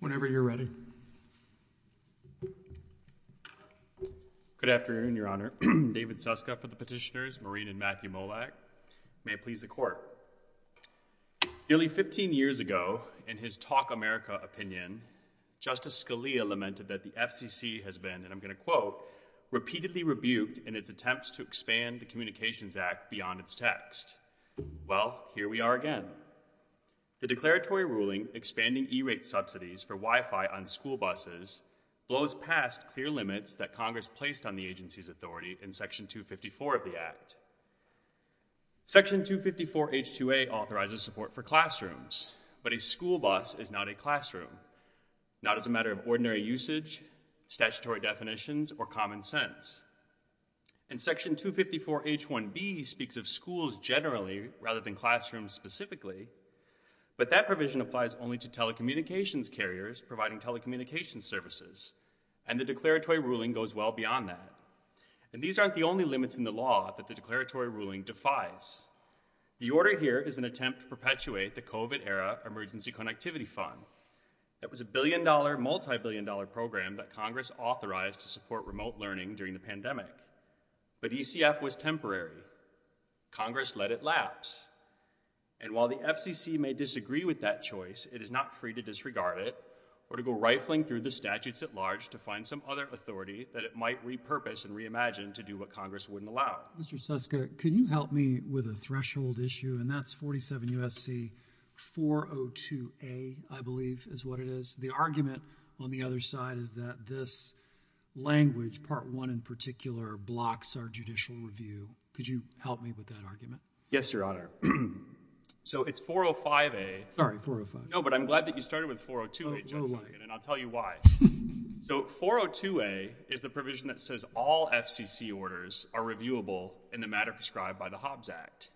Whenever you're ready. Good afternoon, Your Honor. David Suska for the Petitioners, Maureen and Matthew Molak. May it please the Court. Nearly 15 years ago, in his Talk America opinion, Justice Scalia lamented that the FCC has been, and I'm going to quote, repeatedly rebuked in its attempts to expand the Communications Act beyond its text. Well, here we are again. The declaratory ruling expanding E-rate subsidies for Wi-Fi on school buses blows past clear limits that Congress placed on the agency's authority in Section 254 of the Act. Section 254 H-2A authorizes support for classrooms, but a school bus is not a classroom, not as a matter of ordinary usage, statutory definitions, or common sense. And Section 254 H-1B speaks of schools generally rather than classrooms specifically, but that provision applies only to telecommunications carriers providing telecommunications services, and the declaratory ruling goes well beyond that. And these aren't the only limits in the law that the declaratory ruling defies. The order here is an attempt to perpetuate the COVID era Emergency Connectivity Fund. That was a billion-dollar, multi-billion-dollar program that Congress authorized to support remote learning during the pandemic, but ECF was temporary. Congress let it lapse, and while the FCC may disagree with that choice, it is not free to disregard it or to go rifling through the statutes-at-large to find some other authority that it might repurpose and reimagine to do what Congress wouldn't allow. Mr. Suska, can you help me with a threshold issue, and that's 47 U.S.C. 402 A, I believe is what it is. The argument on the other side is that this language, Part 1 in particular, blocks our judicial review. Could you help me with that argument? Yes, Your Honor. So, it's 405 A. Sorry, 405. No, but I'm glad that you started with 402 A, Judge Hagen, and I'll tell you why. So, 402 A is the provision that says all FCC orders are reviewable in the matter prescribed by the Hobbs Act.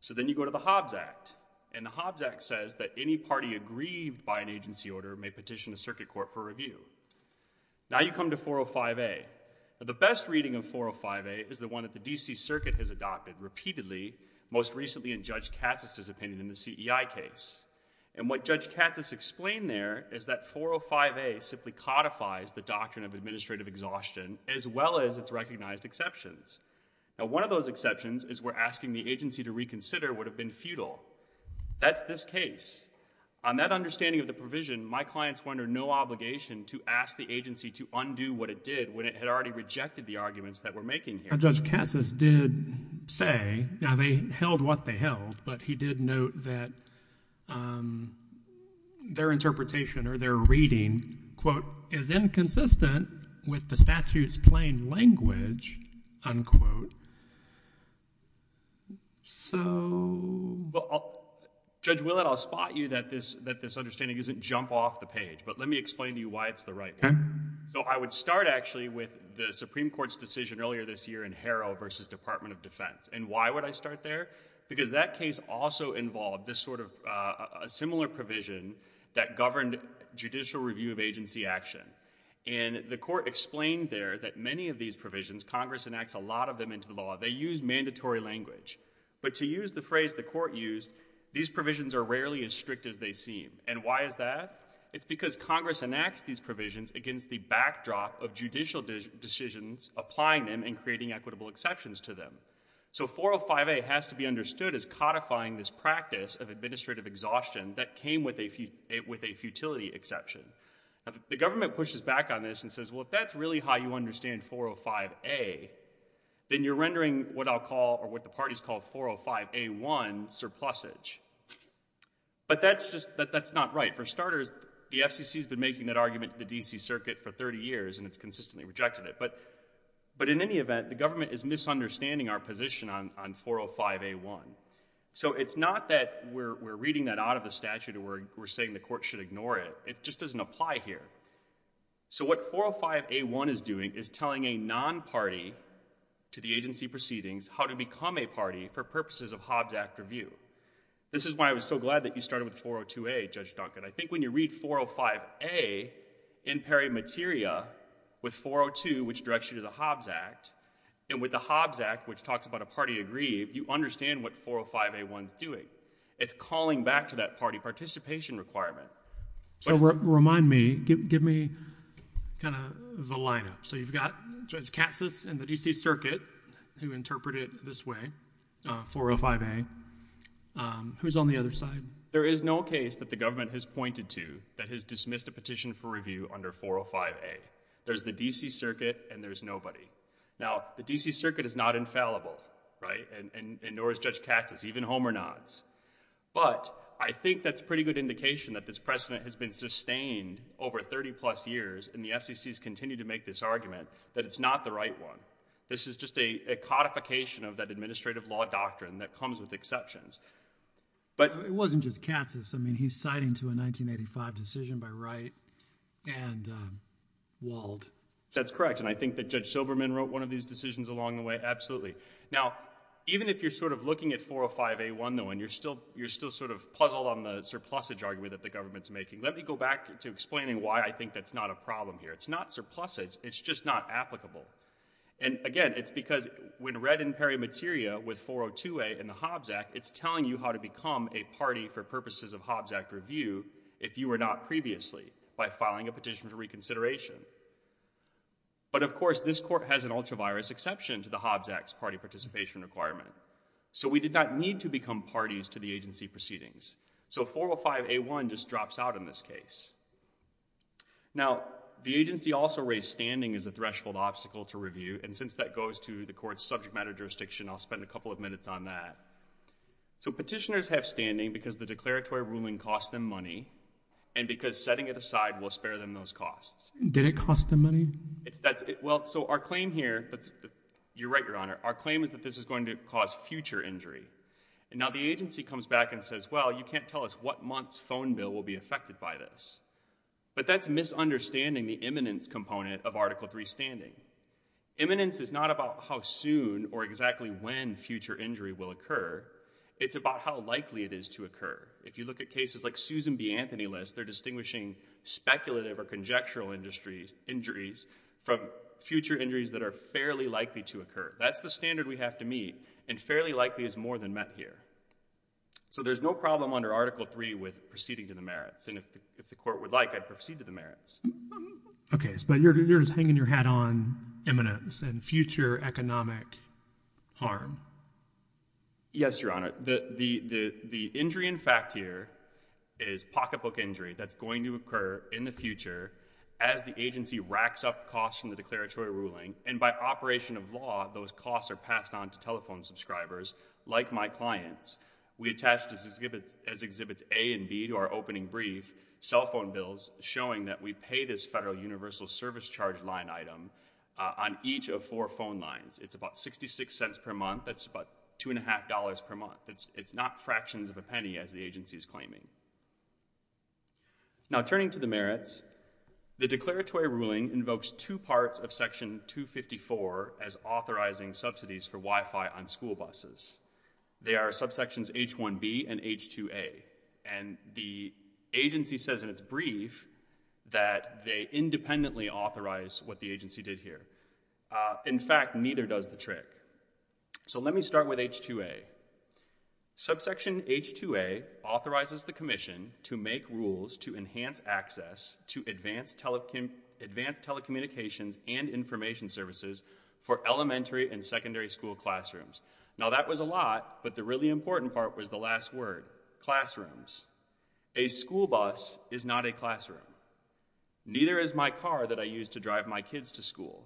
So, then you go to the Hobbs Act, and the Hobbs Act says that any party aggrieved by an agency order may petition the Circuit Court for review. Now, you come to 405 A. Now, the best reading of 405 A is the one that the D.C. Circuit has adopted repeatedly, most recently in Judge Katz's opinion in the CEI case. And what Judge Katz has explained there is that 405 A simply codifies the doctrine of administrative exhaustion as well as its recognized exceptions. Now, one of those exceptions is where asking the agency to reconsider would have been futile. That's this case. On that understanding of the provision, my clients wonder no obligation to ask the agency to undo what it did when it had already rejected the arguments that we're making here. Now, Judge Cassis did say, now they held what they held, but he did note that their interpretation or their reading, quote, is inconsistent with the statute's plain language, unquote. So... Judge Willett, I'll spot you that this understanding doesn't jump off the page, but let me explain to you why it's the right one. So I would start actually with the Supreme Court's decision earlier this year in Harrell versus Department of Defense. And why would I start there? Because that case also involved this sort of... a similar provision that governed judicial review of agency action. And the Court explained there that many of these provisions, Congress enacts a lot of them into the law, they use mandatory language. But to use the court used, these provisions are rarely as strict as they seem. And why is that? It's because Congress enacts these provisions against the backdrop of judicial decisions applying them and creating equitable exceptions to them. So 405A has to be understood as codifying this practice of administrative exhaustion that came with a futility exception. The government pushes back on this and says, well, if that's really how you understand 405A, then you're what I'll call or what the parties call 405A1 surplusage. But that's just... that's not right. For starters, the FCC has been making that argument to the D.C. Circuit for 30 years and it's consistently rejected it. But in any event, the government is misunderstanding our position on 405A1. So it's not that we're reading that out of the statute or we're saying the court should ignore it. It just doesn't apply here. So what 405A1 is doing is telling a non-party to the agency proceedings how to become a party for purposes of Hobbs Act review. This is why I was so glad that you started with 402A, Judge Duncan. I think when you read 405A in peri materia with 402, which directs you to the Hobbs Act, and with the Hobbs Act, which talks about a party degree, you understand what 405A1 is doing. It's calling back to that party participation requirement. So remind me, give me kind of the lineup. So you've got Judge Katsas and the D.C. Circuit who interpret it this way, 405A. Who's on the other side? There is no case that the government has pointed to that has dismissed a petition for review under 405A. There's the D.C. Circuit and there's nobody. Now, the D.C. Circuit is not infallible, right, and nor is Judge Katsas, even But I think that's a pretty good indication that this precedent has been sustained over 30 plus years and the FCC's continue to make this argument that it's not the right one. This is just a codification of that administrative law doctrine that comes with exceptions. But it wasn't just Katsas. I mean, he's citing to a 1985 decision by Wright and Wald. That's correct. And I think that Judge Silberman wrote one of these decisions along the way. Absolutely. Now, even if you're sort of looking at 405A1, you're still sort of puzzled on the surplusage argument that the government's making. Let me go back to explaining why I think that's not a problem here. It's not surplusage. It's just not applicable. And again, it's because when read in peri materia with 402A in the Hobbs Act, it's telling you how to become a party for purposes of Hobbs Act review if you were not previously by filing a petition for reconsideration. But of course, this court has an ultra-virus exception to the Hobbs Act's participation requirement. So we did not need to become parties to the agency proceedings. So 405A1 just drops out in this case. Now, the agency also raised standing as a threshold obstacle to review. And since that goes to the court's subject matter jurisdiction, I'll spend a couple of minutes on that. So petitioners have standing because the declaratory ruling costs them money and because setting it aside will spare them those costs. Did it cost them money? Well, so our claim here, you're right, Your Honor, our claim is that this is going to cause future injury. And now the agency comes back and says, well, you can't tell us what month's phone bill will be affected by this. But that's misunderstanding the imminence component of Article III standing. Imminence is not about how soon or exactly when future injury will occur. It's about how likely it is to occur. If you look at cases like Susan B. Anthony lists, they're distinguishing speculative or conjectural injuries from future injuries that are fairly likely to occur. That's the standard we have to meet. And fairly likely is more than met here. So there's no problem under Article III with proceeding to the merits. And if the court would like, I'd proceed to the merits. OK. But you're just hanging your hat on imminence and future economic harm. Yes, Your Honor. The injury in fact here is pocketbook injury that's going to occur in the future as the agency racks up costs from the declaratory ruling. And by operation of law, those costs are passed on to telephone subscribers like my clients. We attached as exhibits A and B to our opening brief, cell phone bills showing that we pay this federal universal service charge line item on each of four phone lines. It's about $0.66 per month. That's about $2.50 per month. It's not fractions of a penny as the agency is claiming. Now turning to the merits, the declaratory ruling invokes two parts of Section 254 as authorizing subsidies for Wi-Fi on school buses. They are subsections H1B and H2A. And the agency says in its brief that they independently authorized what the agency did here. In fact, neither does the trick. So let me start with H2A. Subsection H2A authorizes the commission to make rules to enhance access to advanced telecommunications and information services for elementary and secondary school classrooms. Now that was a lot, but the really important part was the last word, classrooms. A school bus is not a classroom. Neither is my car that I use to drive my kids to school.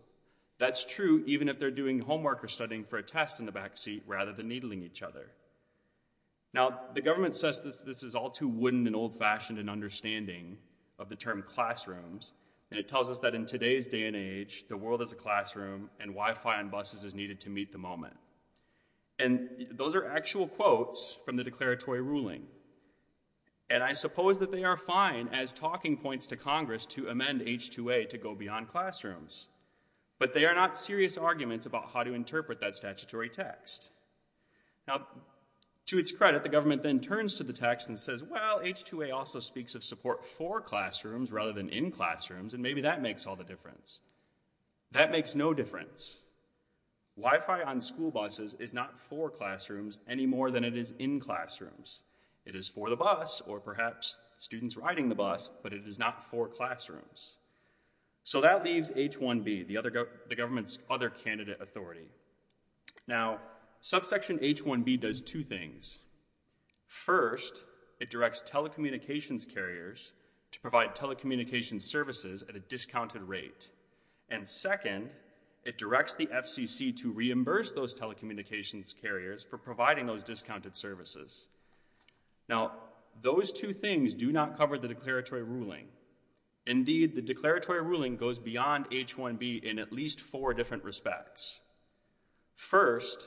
That's true even if they're doing homework or studying for a test in the backseat rather than needling each other. Now the government says this is all too wooden and old-fashioned in understanding of the term classrooms. And it tells us that in today's day and age, the world is a classroom and Wi-Fi on buses is needed to meet the moment. And those are actual quotes from the declaratory ruling. And I suppose that they are fine as talking points to Congress to amend H2A to go beyond classrooms. But they are not serious arguments about how to interpret that statutory text. Now, to its credit, the government then turns to the text and says, well, H2A also speaks of support for classrooms rather than in classrooms, and maybe that makes all the difference. That makes no difference. Wi-Fi on school buses is not for classrooms any more than it is in classrooms. It is for the bus or perhaps students riding the bus, but it is not for classrooms. So that leaves H1B, the government's other candidate authority. Now, subsection H1B does two things. First, it directs telecommunications carriers to provide telecommunications services at a discounted rate. And second, it directs the FCC to reimburse those telecommunications carriers for providing those discounted services. Now, those two things do not cover the declaratory ruling. Indeed, the declaratory ruling goes beyond H1B in at least four different respects. First,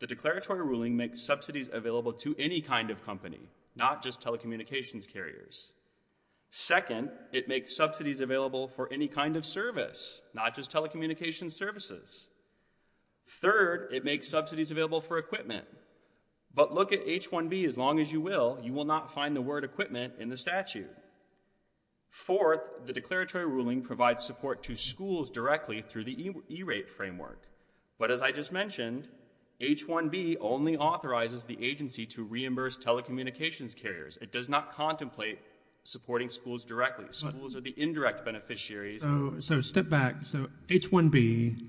the declaratory ruling makes subsidies available to any kind of company, not just telecommunications carriers. Second, it makes subsidies available for any kind of service, not just telecommunications services. Third, it makes subsidies available for equipment. But look at H1B, as long as you will, you will not find the word equipment in the statute. Fourth, the declaratory ruling provides support to schools directly through the E-rate framework. But as I just mentioned, H1B only authorizes the agency to reimburse telecommunications carriers. It does not contemplate supporting schools directly. Schools are the indirect beneficiaries. So step back. So H1B,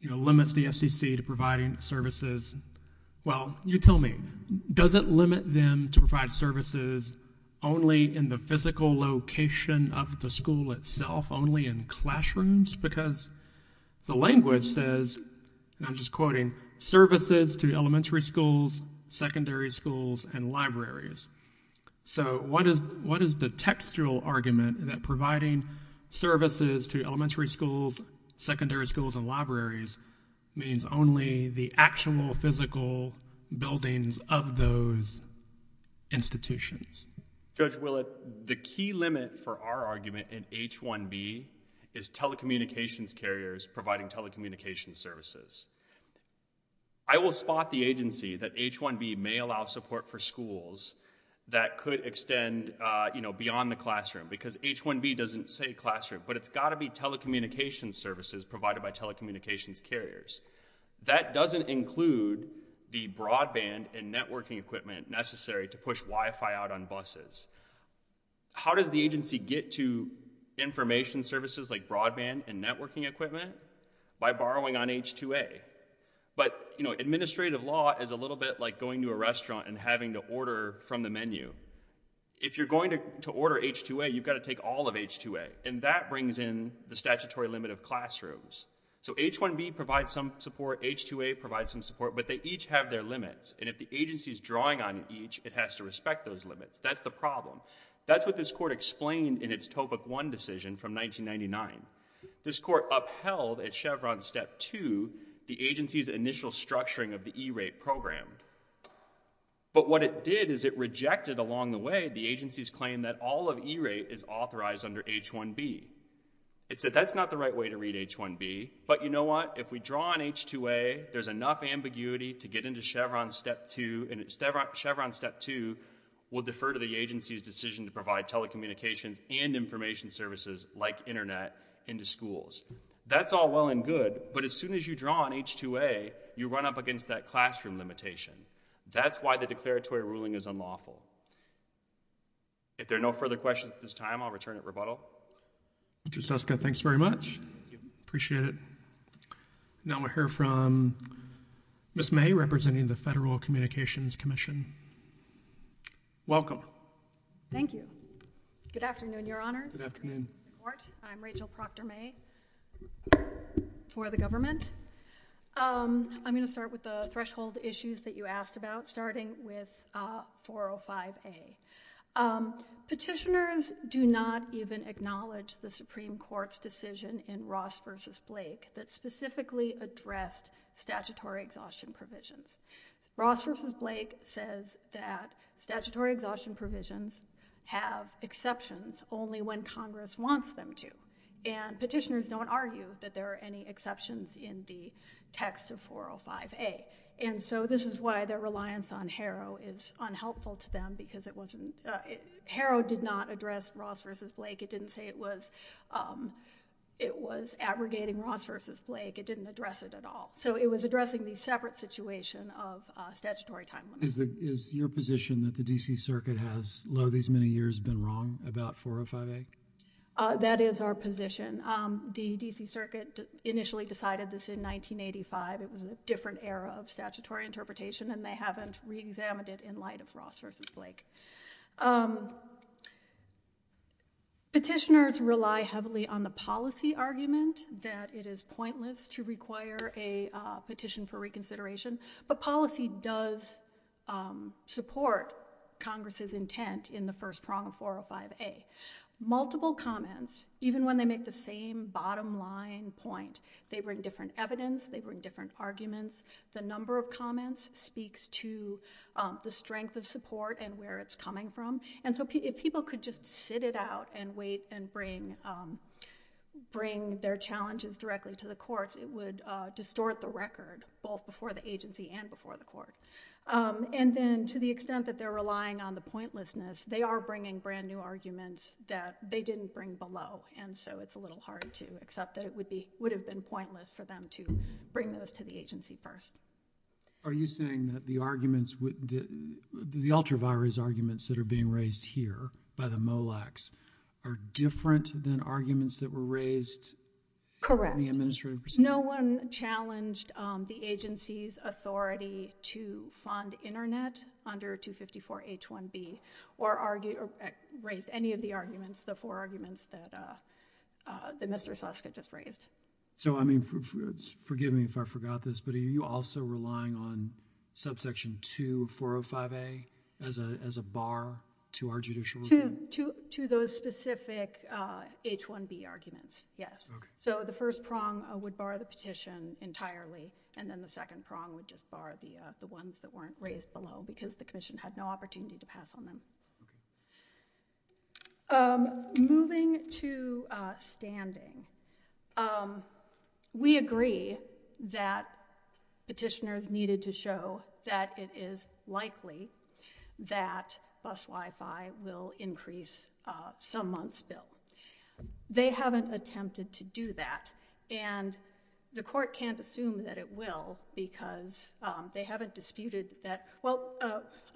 you know, limits the FCC to providing services. Well, you tell me, does it limit them to provide services only in the physical location of the school itself, only in classrooms? Because the language says, and I'm just quoting, services to elementary schools, secondary schools, and libraries. So what is the textual argument that providing services to elementary schools, secondary schools, and libraries means only the actual physical buildings of those institutions? Judge Willett, the key limit for our argument in H1B is telecommunications carriers providing telecommunications services. I will spot the agency that H1B may allow support for schools that could extend beyond the classroom, because H1B doesn't say classroom, but it's got to be telecommunications services provided by telecommunications carriers. That doesn't include the broadband and networking equipment necessary to push Wi-Fi out on buses. How does the agency get to information services like broadband and networking equipment? By borrowing on H2A. But, you know, administrative law is a little bit like going to a restaurant and having to order from the menu. If you're going to order H2A, you've got to take all of H2A, and that brings in the statutory limit of classrooms. So H1B provides some support, H2A provides some support, but they each have their limits. And if the agency is drawing on each, it has to respect those limits. That's the problem. That's what this court explained in its Topic 1 decision from 1999. This court upheld at Chevron Step 2 the agency's initial structuring of the E-rate program. But what it did is it rejected along the way the agency's all of E-rate is authorized under H1B. It said that's not the right way to read H1B, but you know what? If we draw on H2A, there's enough ambiguity to get into Chevron Step 2, and Chevron Step 2 will defer to the agency's decision to provide telecommunications and information services like internet into schools. That's all well and good, but as soon as you draw on H2A, you run up against that classroom limitation. That's why the declaratory ruling is unlawful. If there are no further questions at this time, I'll return at rebuttal. Mr. Suska, thanks very much. Appreciate it. Now we'll hear from Ms. May representing the Federal Communications Commission. Welcome. Thank you. Good afternoon, Your Honors. Good afternoon. I'm Rachel Proctor May for the government. I'm going to start with the threshold issues that you asked about, starting with 405A. Petitioners do not even acknowledge the Supreme Court's decision in Ross v. Blake that specifically addressed statutory exhaustion provisions. Ross v. Blake says that statutory exhaustion provisions have exceptions only when Congress wants them to, and petitioners don't argue that there are any exceptions in the text of 405A. And so this is why their reliance on Harrow is unhelpful to them, because Harrow did not address Ross v. Blake. It didn't say it was abrogating Ross v. Blake. It didn't address it at all. So it was addressing the separate situation of statutory time limits. Is your position that the D.C. Circuit has, these many years, been wrong about 405A? That is our position. The D.C. Circuit initially decided this in 1985. It was a different era of statutory interpretation, and they haven't re-examined it in light of Ross v. Blake. Petitioners rely heavily on the policy argument that it is pointless to require a petition for reconsideration, but policy does support Congress's intent in the first prong of 405A. Multiple comments, even when they make the same bottom line point, they bring different evidence, they bring different arguments. The number of comments speaks to the strength of support and where it's coming from. And so if people could just sit it out and wait and bring their challenges directly to the courts, it would distort the record, both before the agency and before the court. And then to the extent that they're relying on the pointlessness, they are bringing brand new arguments that they didn't bring below, and so it's a little hard to accept that it would have been pointless for them to bring those to the agency first. Are you saying that the ultravirus arguments that are being raised here by the MOLACs are different than arguments that were raised in the administrative procedure? Correct. No one challenged the agency's authority to fund internet under 254H1B or raised any of the arguments, the four arguments that Mr. Susskind just raised. So I mean, forgive me if I forgot this, but are you also relying on subsection 2405A as a bar to our judicial review? To those specific H1B arguments, yes. Okay. So the first prong would bar the petition entirely, and then the second prong would just bar the ones that weren't raised below because the commission had no opportunity to pass on them. Okay. Moving to standing, we agree that petitioners needed to show that it is likely that bus Wi-Fi will increase some month's bill. They haven't attempted to do that, and the court can't assume that it will because they haven't disputed that. Well,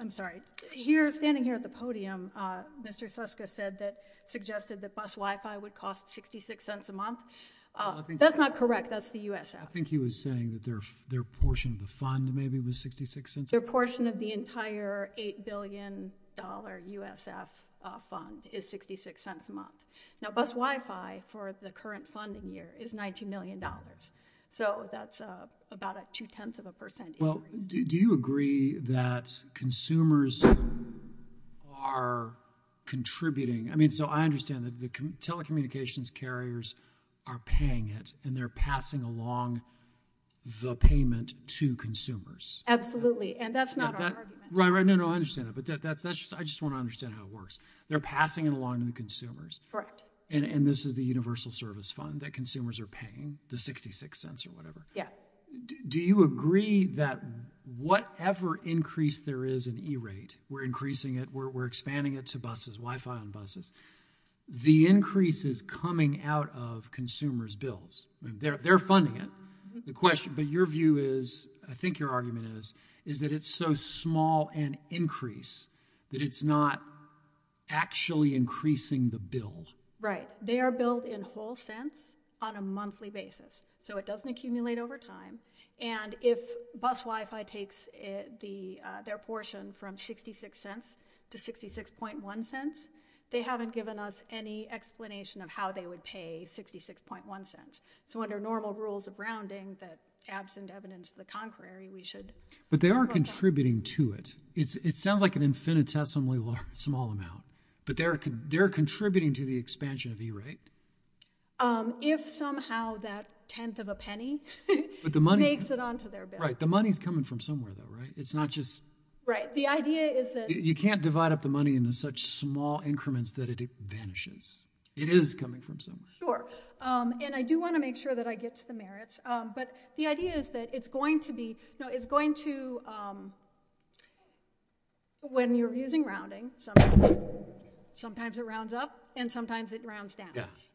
I'm sorry, here, standing here at the podium, Mr. Susskind said that, suggested that bus Wi-Fi would cost 66 cents a month. That's not correct, that's the USF. I think he was saying that their portion of the fund maybe was 66 cents. Their portion of the entire $8 billion USF fund is 66 cents a month. Now bus Wi-Fi for the current funding year is $19 million, so that's about a two-tenth of a percent increase. Do you agree that consumers are contributing? I mean, so I understand that the telecommunications carriers are paying it, and they're passing along the payment to consumers. Absolutely, and that's not our argument. Right, right, no, no, I understand that, but that's just, I just want to understand how it works. They're passing it along to the consumers. Correct. And this is the universal service fund that consumers are paying, the 66 cents or whatever. Do you agree that whatever increase there is in E-rate, we're increasing it, we're expanding it to buses, Wi-Fi on buses, the increase is coming out of consumers' bills? I mean, they're funding it. The question, but your view is, I think your argument is, is that it's so small an increase that it's not actually increasing the bill. Right, they are billed in whole cents on a monthly basis, so it doesn't accumulate over time, and if bus Wi-Fi takes their portion from 66 cents to 66.1 cents, they haven't given us any explanation of how they would pay 66.1 cents, so under normal rules of rounding that absent evidence to the contrary, we should. But they are contributing to it. It sounds like an infinitesimally small amount, but they're contributing to the expansion of E-rate? If somehow that tenth of a penny makes it onto their bill. Right, the money's coming from somewhere though, right? It's not just... Right, the idea is that... You can't divide up the money into such small increments that it vanishes. It is coming from somewhere. Sure, and I do want to make sure that I get to the merits, but the idea is that it's going to be, you know, it's going to, um, when you're using rounding, sometimes it rounds up, and sometimes it rounds down.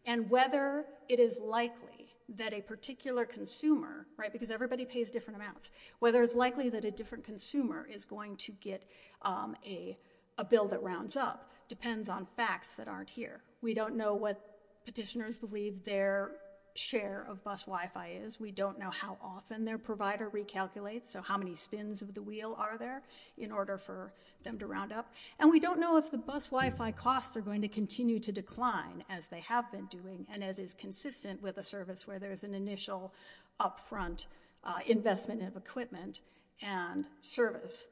And whether it is likely that a particular consumer, right, because everybody pays different amounts, whether it's likely that a different consumer is going to get a bill that rounds up depends on facts that aren't here. We don't know what petitioners believe their share of bus Wi-Fi is. We don't know how often their provider recalculates, so how many spins of the wheel are there in order for them to round up. And we don't know if the bus Wi-Fi costs are going to continue to decline as they have been doing, and as is consistent with a service where there's an initial upfront investment of equipment and service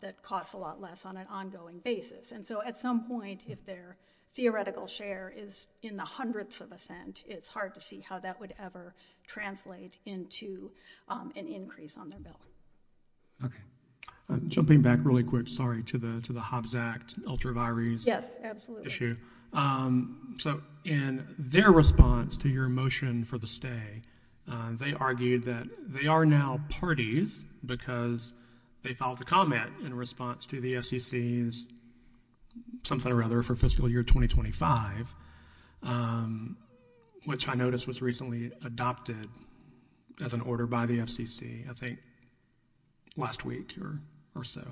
that costs a lot less on an ongoing basis. And so at some point, if their theoretical share is in the hundreds of a cent, it's hard to see how that would ever translate into an increase on their bill. Okay. Jumping back really quick, sorry, to the Hobbs Act ultravirus issue. Yes, absolutely. So in their response to your motion for the stay, they argued that they are now parties because they filed a comment in response to the SEC's something or other for fiscal year 2025, which I noticed was recently adopted as an order by the FCC, I think last week or so.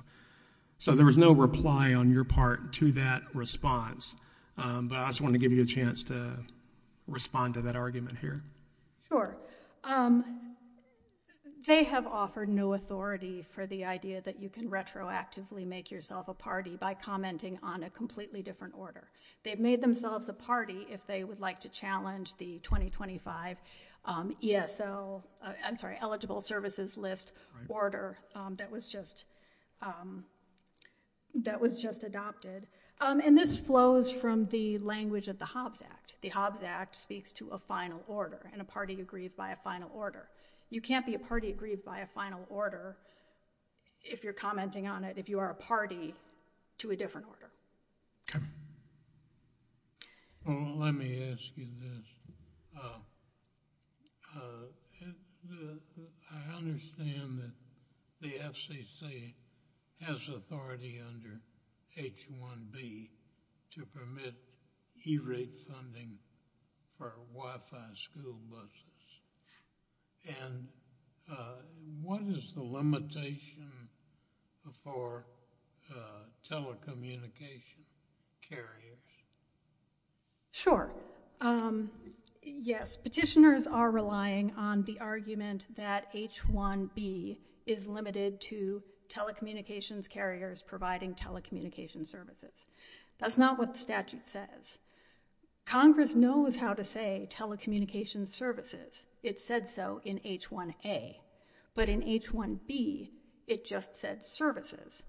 So there was no reply on your part to that response, but I just wanted to give you a chance to respond to that argument here. Sure. They have offered no authority for the idea that you can retroactively make yourself a party by commenting on a completely different order. They've made themselves a party if they would like to challenge the 2025 ESL, I'm sorry, eligible services list order that was just adopted. And this flows from the language of the Hobbs Act. The Hobbs Act speaks to a final order and a party agreed by a final order. You can't be a party agreed by a final order if you're commenting on it, if you are a party to a different order. Okay. Well, let me ask you this. I understand that the FCC has authority under H-1B to permit E-rate funding for Wi-Fi school services. And what is the limitation for telecommunication carriers? Sure. Yes, petitioners are relying on the argument that H-1B is limited to telecommunications carriers providing telecommunication services. That's not what the statute says. Congress knows how to say telecommunication services. It said so in H-1A. But in H-1B, it just said services.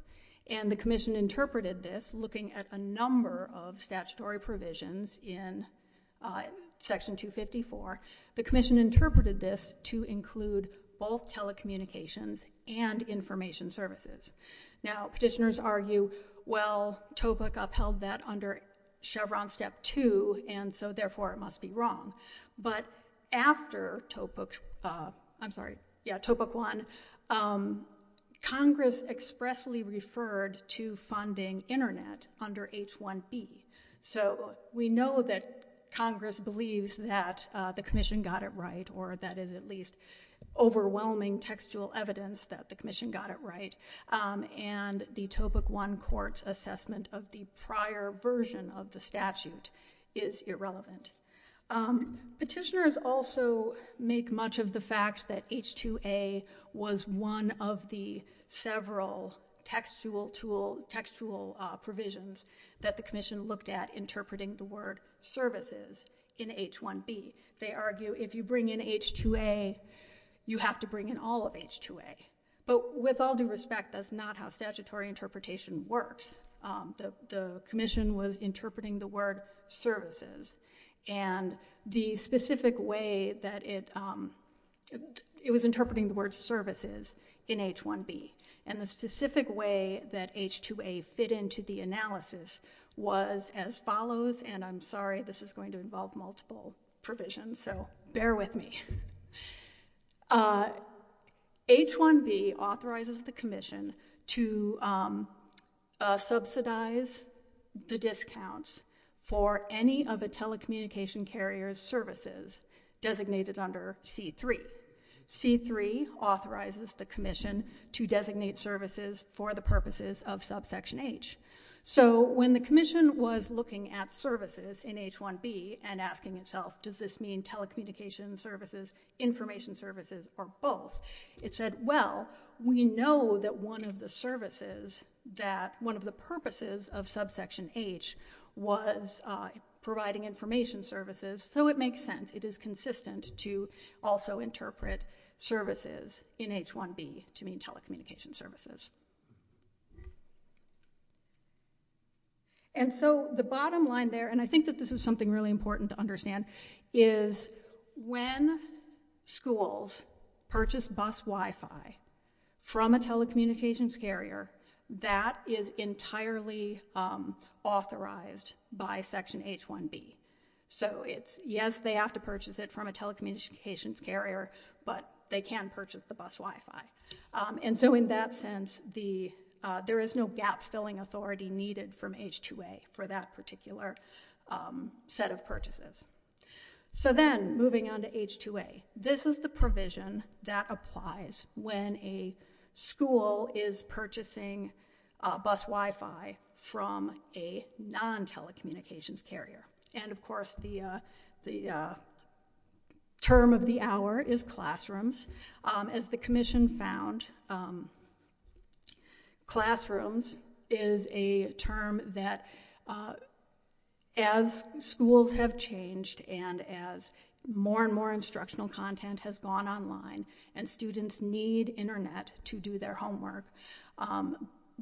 And the commission interpreted this looking at a number of statutory provisions in section 254. The commission interpreted this to include both telecommunications and information services. Now, but after Topek, I'm sorry, yeah, Topek 1, Congress expressly referred to funding internet under H-1B. So we know that Congress believes that the commission got it right or that is at least overwhelming textual evidence that the commission got it right. And the Topek 1 assessment of the prior version of the statute is irrelevant. Petitioners also make much of the fact that H-2A was one of the several textual provisions that the commission looked at interpreting the word services in H-1B. They argue if you bring in H-2A, you have to bring in all of H-2A. But with all due respect, that's not how statutory interpretation works. The commission was interpreting the word services. And the specific way that it was interpreting the word services in H-1B and the specific way that H-2A fit into the analysis was as follows. And I'm H-1B authorizes the commission to subsidize the discounts for any of the telecommunication carriers services designated under C-3. C-3 authorizes the commission to designate services for the purposes of subsection H. So when the commission was looking at services in H-1B and asking itself, does this mean telecommunication services, information services, or both, it said, well, we know that one of the services that one of the purposes of subsection H was providing information services. So it makes sense. It is consistent to also interpret services in H-1B to mean telecommunication services. And so the bottom line there, and I think that this is something really important to understand, is when schools purchase bus Wi-Fi from a telecommunications carrier, that is entirely authorized by section H-1B. So it's, yes, they have to purchase it from a telecommunications carrier, but they can purchase the bus Wi-Fi. And so in that sense, there is no gap-filling authority needed from H-2A for that particular set of purchases. So then moving on to H-2A, this is the provision that applies when a school is purchasing a bus Wi-Fi from a non-telecommunications carrier. And of course, the term of the hour is classrooms. As the commission found, classrooms is a term that, as schools have changed and as more and more instructional content has gone online and students need internet to do their homework,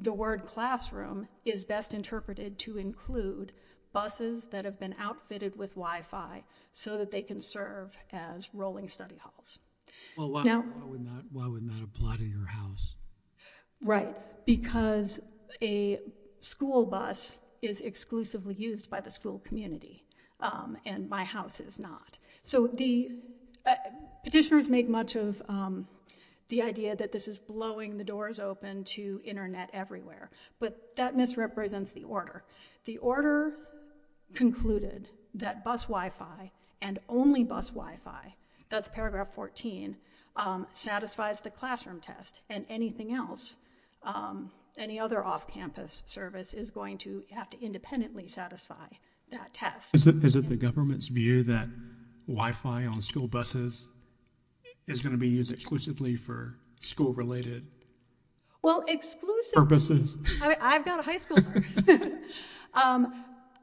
the word classroom is best interpreted to include buses that have been outfitted with Wi-Fi so that they can serve as rolling study halls. Well, why wouldn't that apply to your house? Right, because a school bus is exclusively used by the school community, and my house is not. So the petitioners make much of the idea that this is blowing the doors open to internet everywhere, but that misrepresents the order. The order concluded that bus Wi-Fi and only bus Wi-Fi, that's paragraph 14, satisfies the classroom test and anything else, any other off-campus service is going to have to independently satisfy that test. Is it the government's view that Wi-Fi on school buses is going to be used for school-related purposes? Well,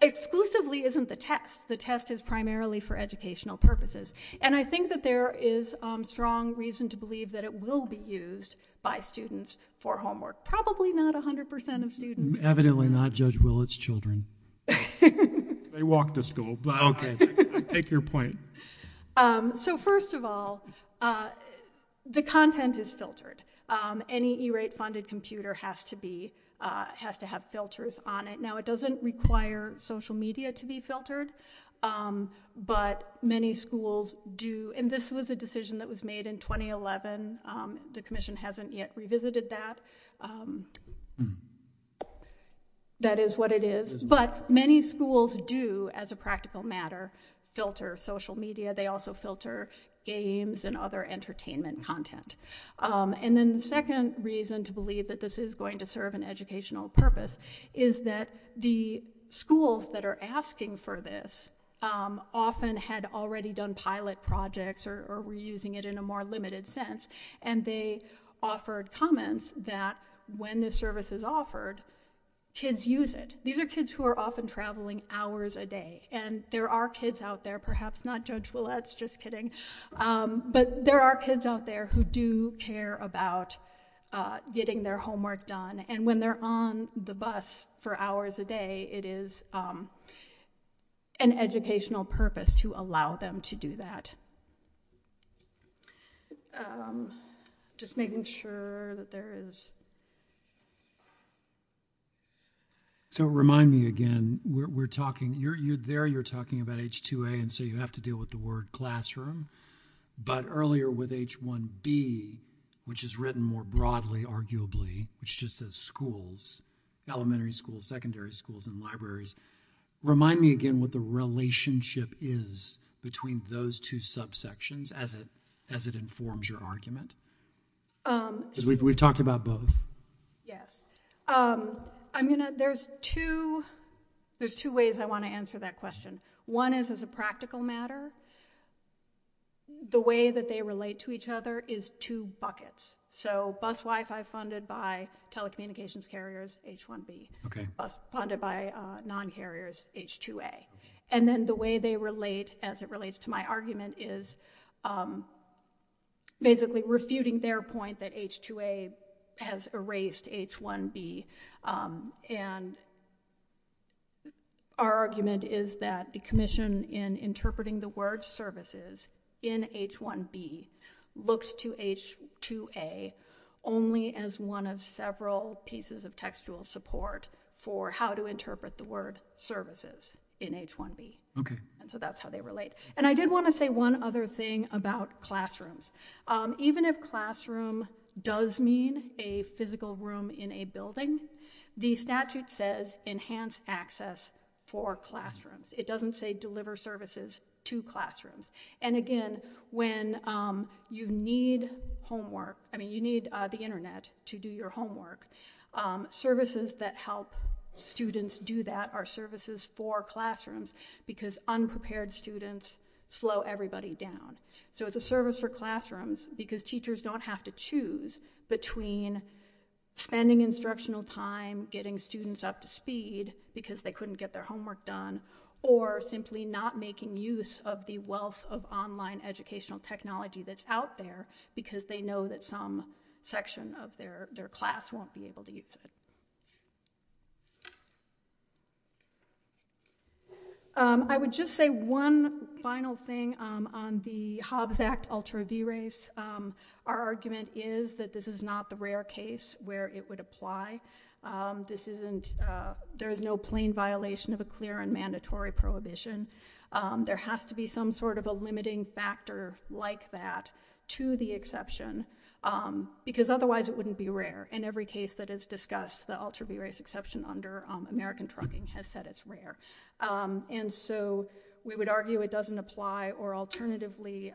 exclusively isn't the test. The test is primarily for educational purposes. And I think that there is strong reason to believe that it will be used by students for homework. Probably not 100% of students. Evidently not Judge Willett's children. They walk to school. Okay, I take your point. So first of all, the content is filtered. Any E-rate funded computer has to have filters on it. Now, it doesn't require social media to be filtered, but many schools do. And this was a decision that was made in 2011. The commission hasn't yet revisited that. That is what it is. But many schools do, as a practical matter, filter social media. They also filter games and other entertainment content. And then the second reason to believe that this is going to serve an educational purpose is that the schools that are asking for this often had already done pilot projects or were using it in a more limited sense and they offered comments that when this service is offered, kids use it. These are kids who are often traveling hours a day. And there are kids out there, perhaps not Judge Willett's, just kidding, but there are kids out there who do care about getting their homework done. And when they're on the bus for hours a day, it is an educational purpose to allow them to do that. Just making sure that there is... So, remind me again, we're talking, you're there, you're talking about H2A, and so you have to deal with the word classroom. But earlier with H1B, which is written more broadly, arguably, which just says schools, elementary schools, secondary schools, and libraries. Remind me again what the relationship is between those two subsections as it informs your argument? Because we've talked about both. Yes. There's two ways I want to answer that question. One is as a practical matter, the way that they relate to each other is two buckets. So bus Wi-Fi funded by telecommunications carriers, H2A. And then the way they relate as it relates to my argument is basically refuting their point that H2A has erased H1B. And our argument is that the commission in interpreting the word services in H1B looks to H2A only as one of several pieces of textual support for how to interpret the word services in H1B. Okay. And so that's how they relate. And I did want to say one other thing about classrooms. Even if classroom does mean a physical room in a building, the statute says enhanced access for classrooms. It doesn't say deliver services to classrooms. And again, when you need homework, you need the internet to do your homework. Services that help students do that are services for classrooms because unprepared students slow everybody down. So it's a service for classrooms because teachers don't have to choose between spending instructional time, getting students up to speed because they couldn't get their homework done, or simply not making use of the wealth of online educational technology that's out there because they know that some section of their class won't be able to use it. I would just say one final thing on the Hobbs Act Ultra V-Race. Our argument is that this is not the rare case where it would apply. There is no plain violation of a clear and mandatory prohibition. There has to be some sort of a limiting factor like that to the exception because otherwise it wouldn't be rare. In every case that is discussed, the Ultra V-Race exception under American Trucking has said it's rare. And so we would argue it doesn't apply or alternatively,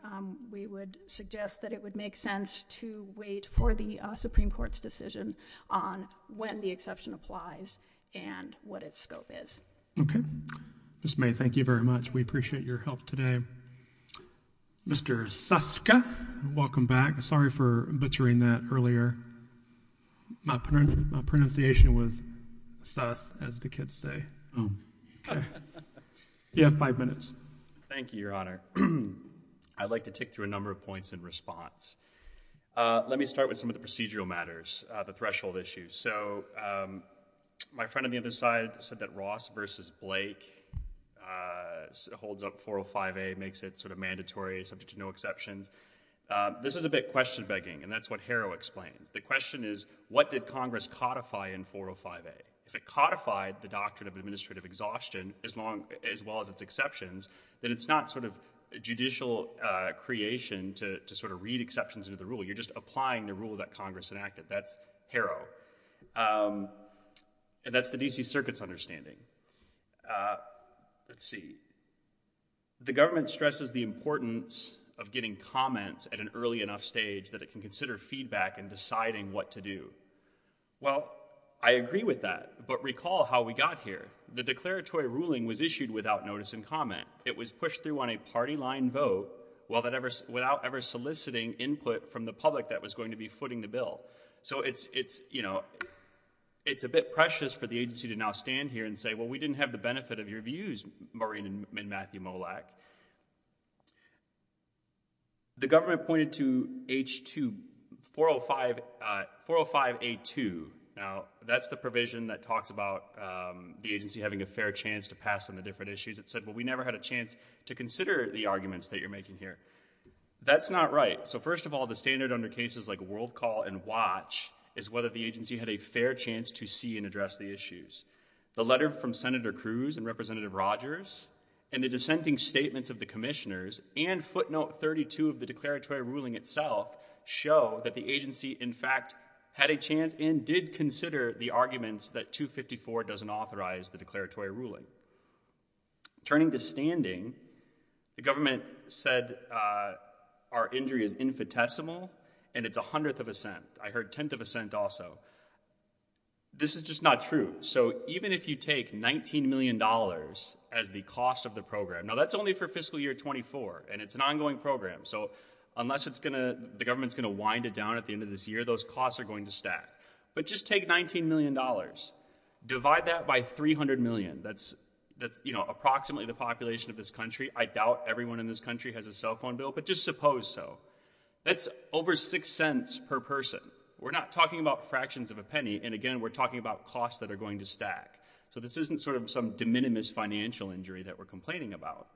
we would suggest that it would make sense to wait for the Supreme Court's decision on when the exception applies and what its scope is. Okay. Ms. May, thank you very much. We appreciate your help today. Mr. Suska, welcome back. Sorry for butchering that earlier. My pronunciation was sus as the kids say. Oh, okay. You have five minutes. Thank you, Your Honor. I'd like to tick through a number of points in response. Let me start with some of the procedural matters, the threshold issues. So my friend on the other side said that Ross versus Blake holds up 405A, makes it sort of mandatory, subject to no exceptions. This is a bit question begging, and that's what Harrow explains. The question is, what did Congress codify in 405A? If it codified the doctrine of administrative exhaustion as long as well as its exceptions, then it's not sort of a judicial creation to sort of read exceptions into the rule. You're just applying the rule that Congress enacted. That's Harrow. And that's the D.C. Circuit's understanding. Let's see. The government stresses the importance of getting comments at an early enough stage that it can consider feedback in deciding what to do. Well, I agree with that, but recall how we got here. The declaratory ruling was issued without notice and comment. It was pushed through on a party-line vote without ever soliciting input from the public that was going to be footing the bill. So it's a bit precious for the agency to now stand here and say, well, we didn't have the benefit of your views, Maureen and Matthew Molak. The government pointed to H2, 405A2. Now, that's the provision that talks about the agency having a fair chance to pass on the different issues. It said, well, we never had a chance to consider the arguments that you're making here. That's not right. So first of all, the standard under cases like WorldCall and WATCH is whether the agency had a fair chance to see and address the issues. The letter from Senator Cruz and Representative Rogers and the dissenting statements of the commissioners and footnote 32 of the declaratory ruling itself show that the agency, in fact, had a chance and did consider the arguments that 254 doesn't authorize the ruling. Turning to standing, the government said our injury is infinitesimal and it's a hundredth of a cent. I heard tenth of a cent also. This is just not true. So even if you take $19 million as the cost of the program, now that's only for fiscal year 24 and it's an ongoing program. So unless the government's going to wind it down at the end of this year, those costs are going to stack. But just take $19 million, divide that by 300 million, that's approximately the population of this country. I doubt everyone in this country has a cell phone bill, but just suppose so. That's over six cents per person. We're not talking about fractions of a penny. And again, we're talking about costs that are going to stack. So this isn't sort of some de minimis financial injury that we're complaining about.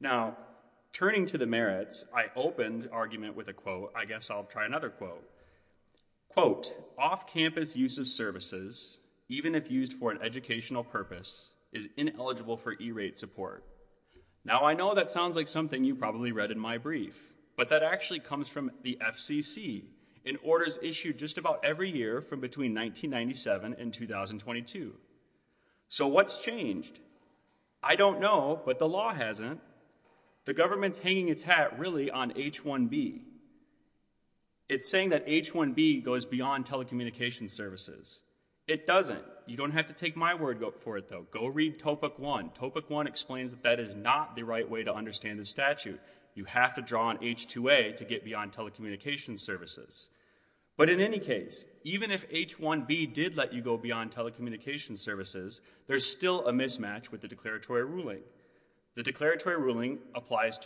Now, turning to the merits, I opened argument with a quote. I guess I'll try another quote. Quote, off-campus use of services, even if used for an educational purpose, is ineligible for E-rate support. Now I know that sounds like something you probably read in my brief, but that actually comes from the FCC and orders issued just about every year from between 1997 and 2022. So what's changed? I don't know, but the law hasn't. The government's hanging its hat really on H-1B. It's saying that H-1B goes beyond telecommunication services. It doesn't. You don't have to take my word for it though. Go read Topek 1. Topek 1 explains that that is not the right way to understand the statute. You have to draw on H-2A to get beyond telecommunication services. But in any case, even if H-1B did let you go beyond telecommunication services, there's still a mismatch with the declaratory ruling. The declaratory ruling applies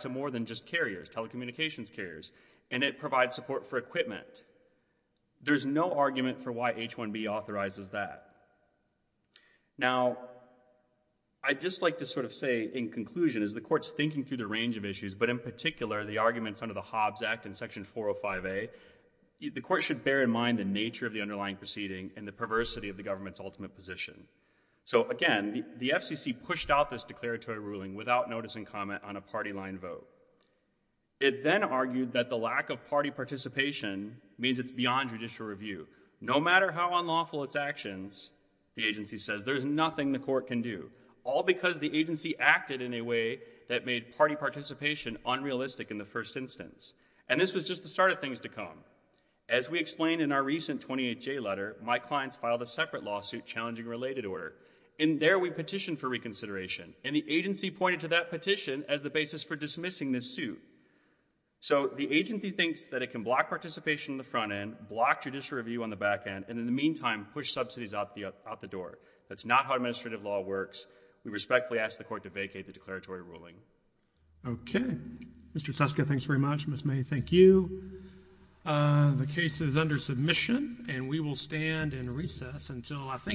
to more than just carriers, telecommunications carriers, and it provides support for equipment. There's no argument for why H-1B authorizes that. Now I'd just like to sort of say in conclusion, as the court's thinking through the range of issues, but in particular the arguments under the Hobbs Act and Section 405A, the court should bear in mind the nature of the underlying proceeding and the perversity of the government's ultimate position. So again, the FCC pushed out this declaratory ruling without notice and comment on a party-line vote. It then argued that the lack of party participation means it's beyond judicial review. No matter how unlawful its actions, the agency says, there's nothing the court can do, all because the agency acted in a way that made party participation unrealistic in the first instance. And this was just the start of things to come. As we explained in our recent 28J letter, my clients filed a separate lawsuit challenging related order, and there we petitioned for reconsideration, and the agency pointed to that petition as the basis for dismissing this suit. So the agency thinks that it can block participation on the front end, block judicial review on the back end, and in the meantime push subsidies out the door. That's not how administrative law works. We respectfully ask the court to vacate the declaratory ruling. Okay. Mr. Seska, thanks very much. Ms. May, thank you. The case is under submission, and we will stand in recess until I think...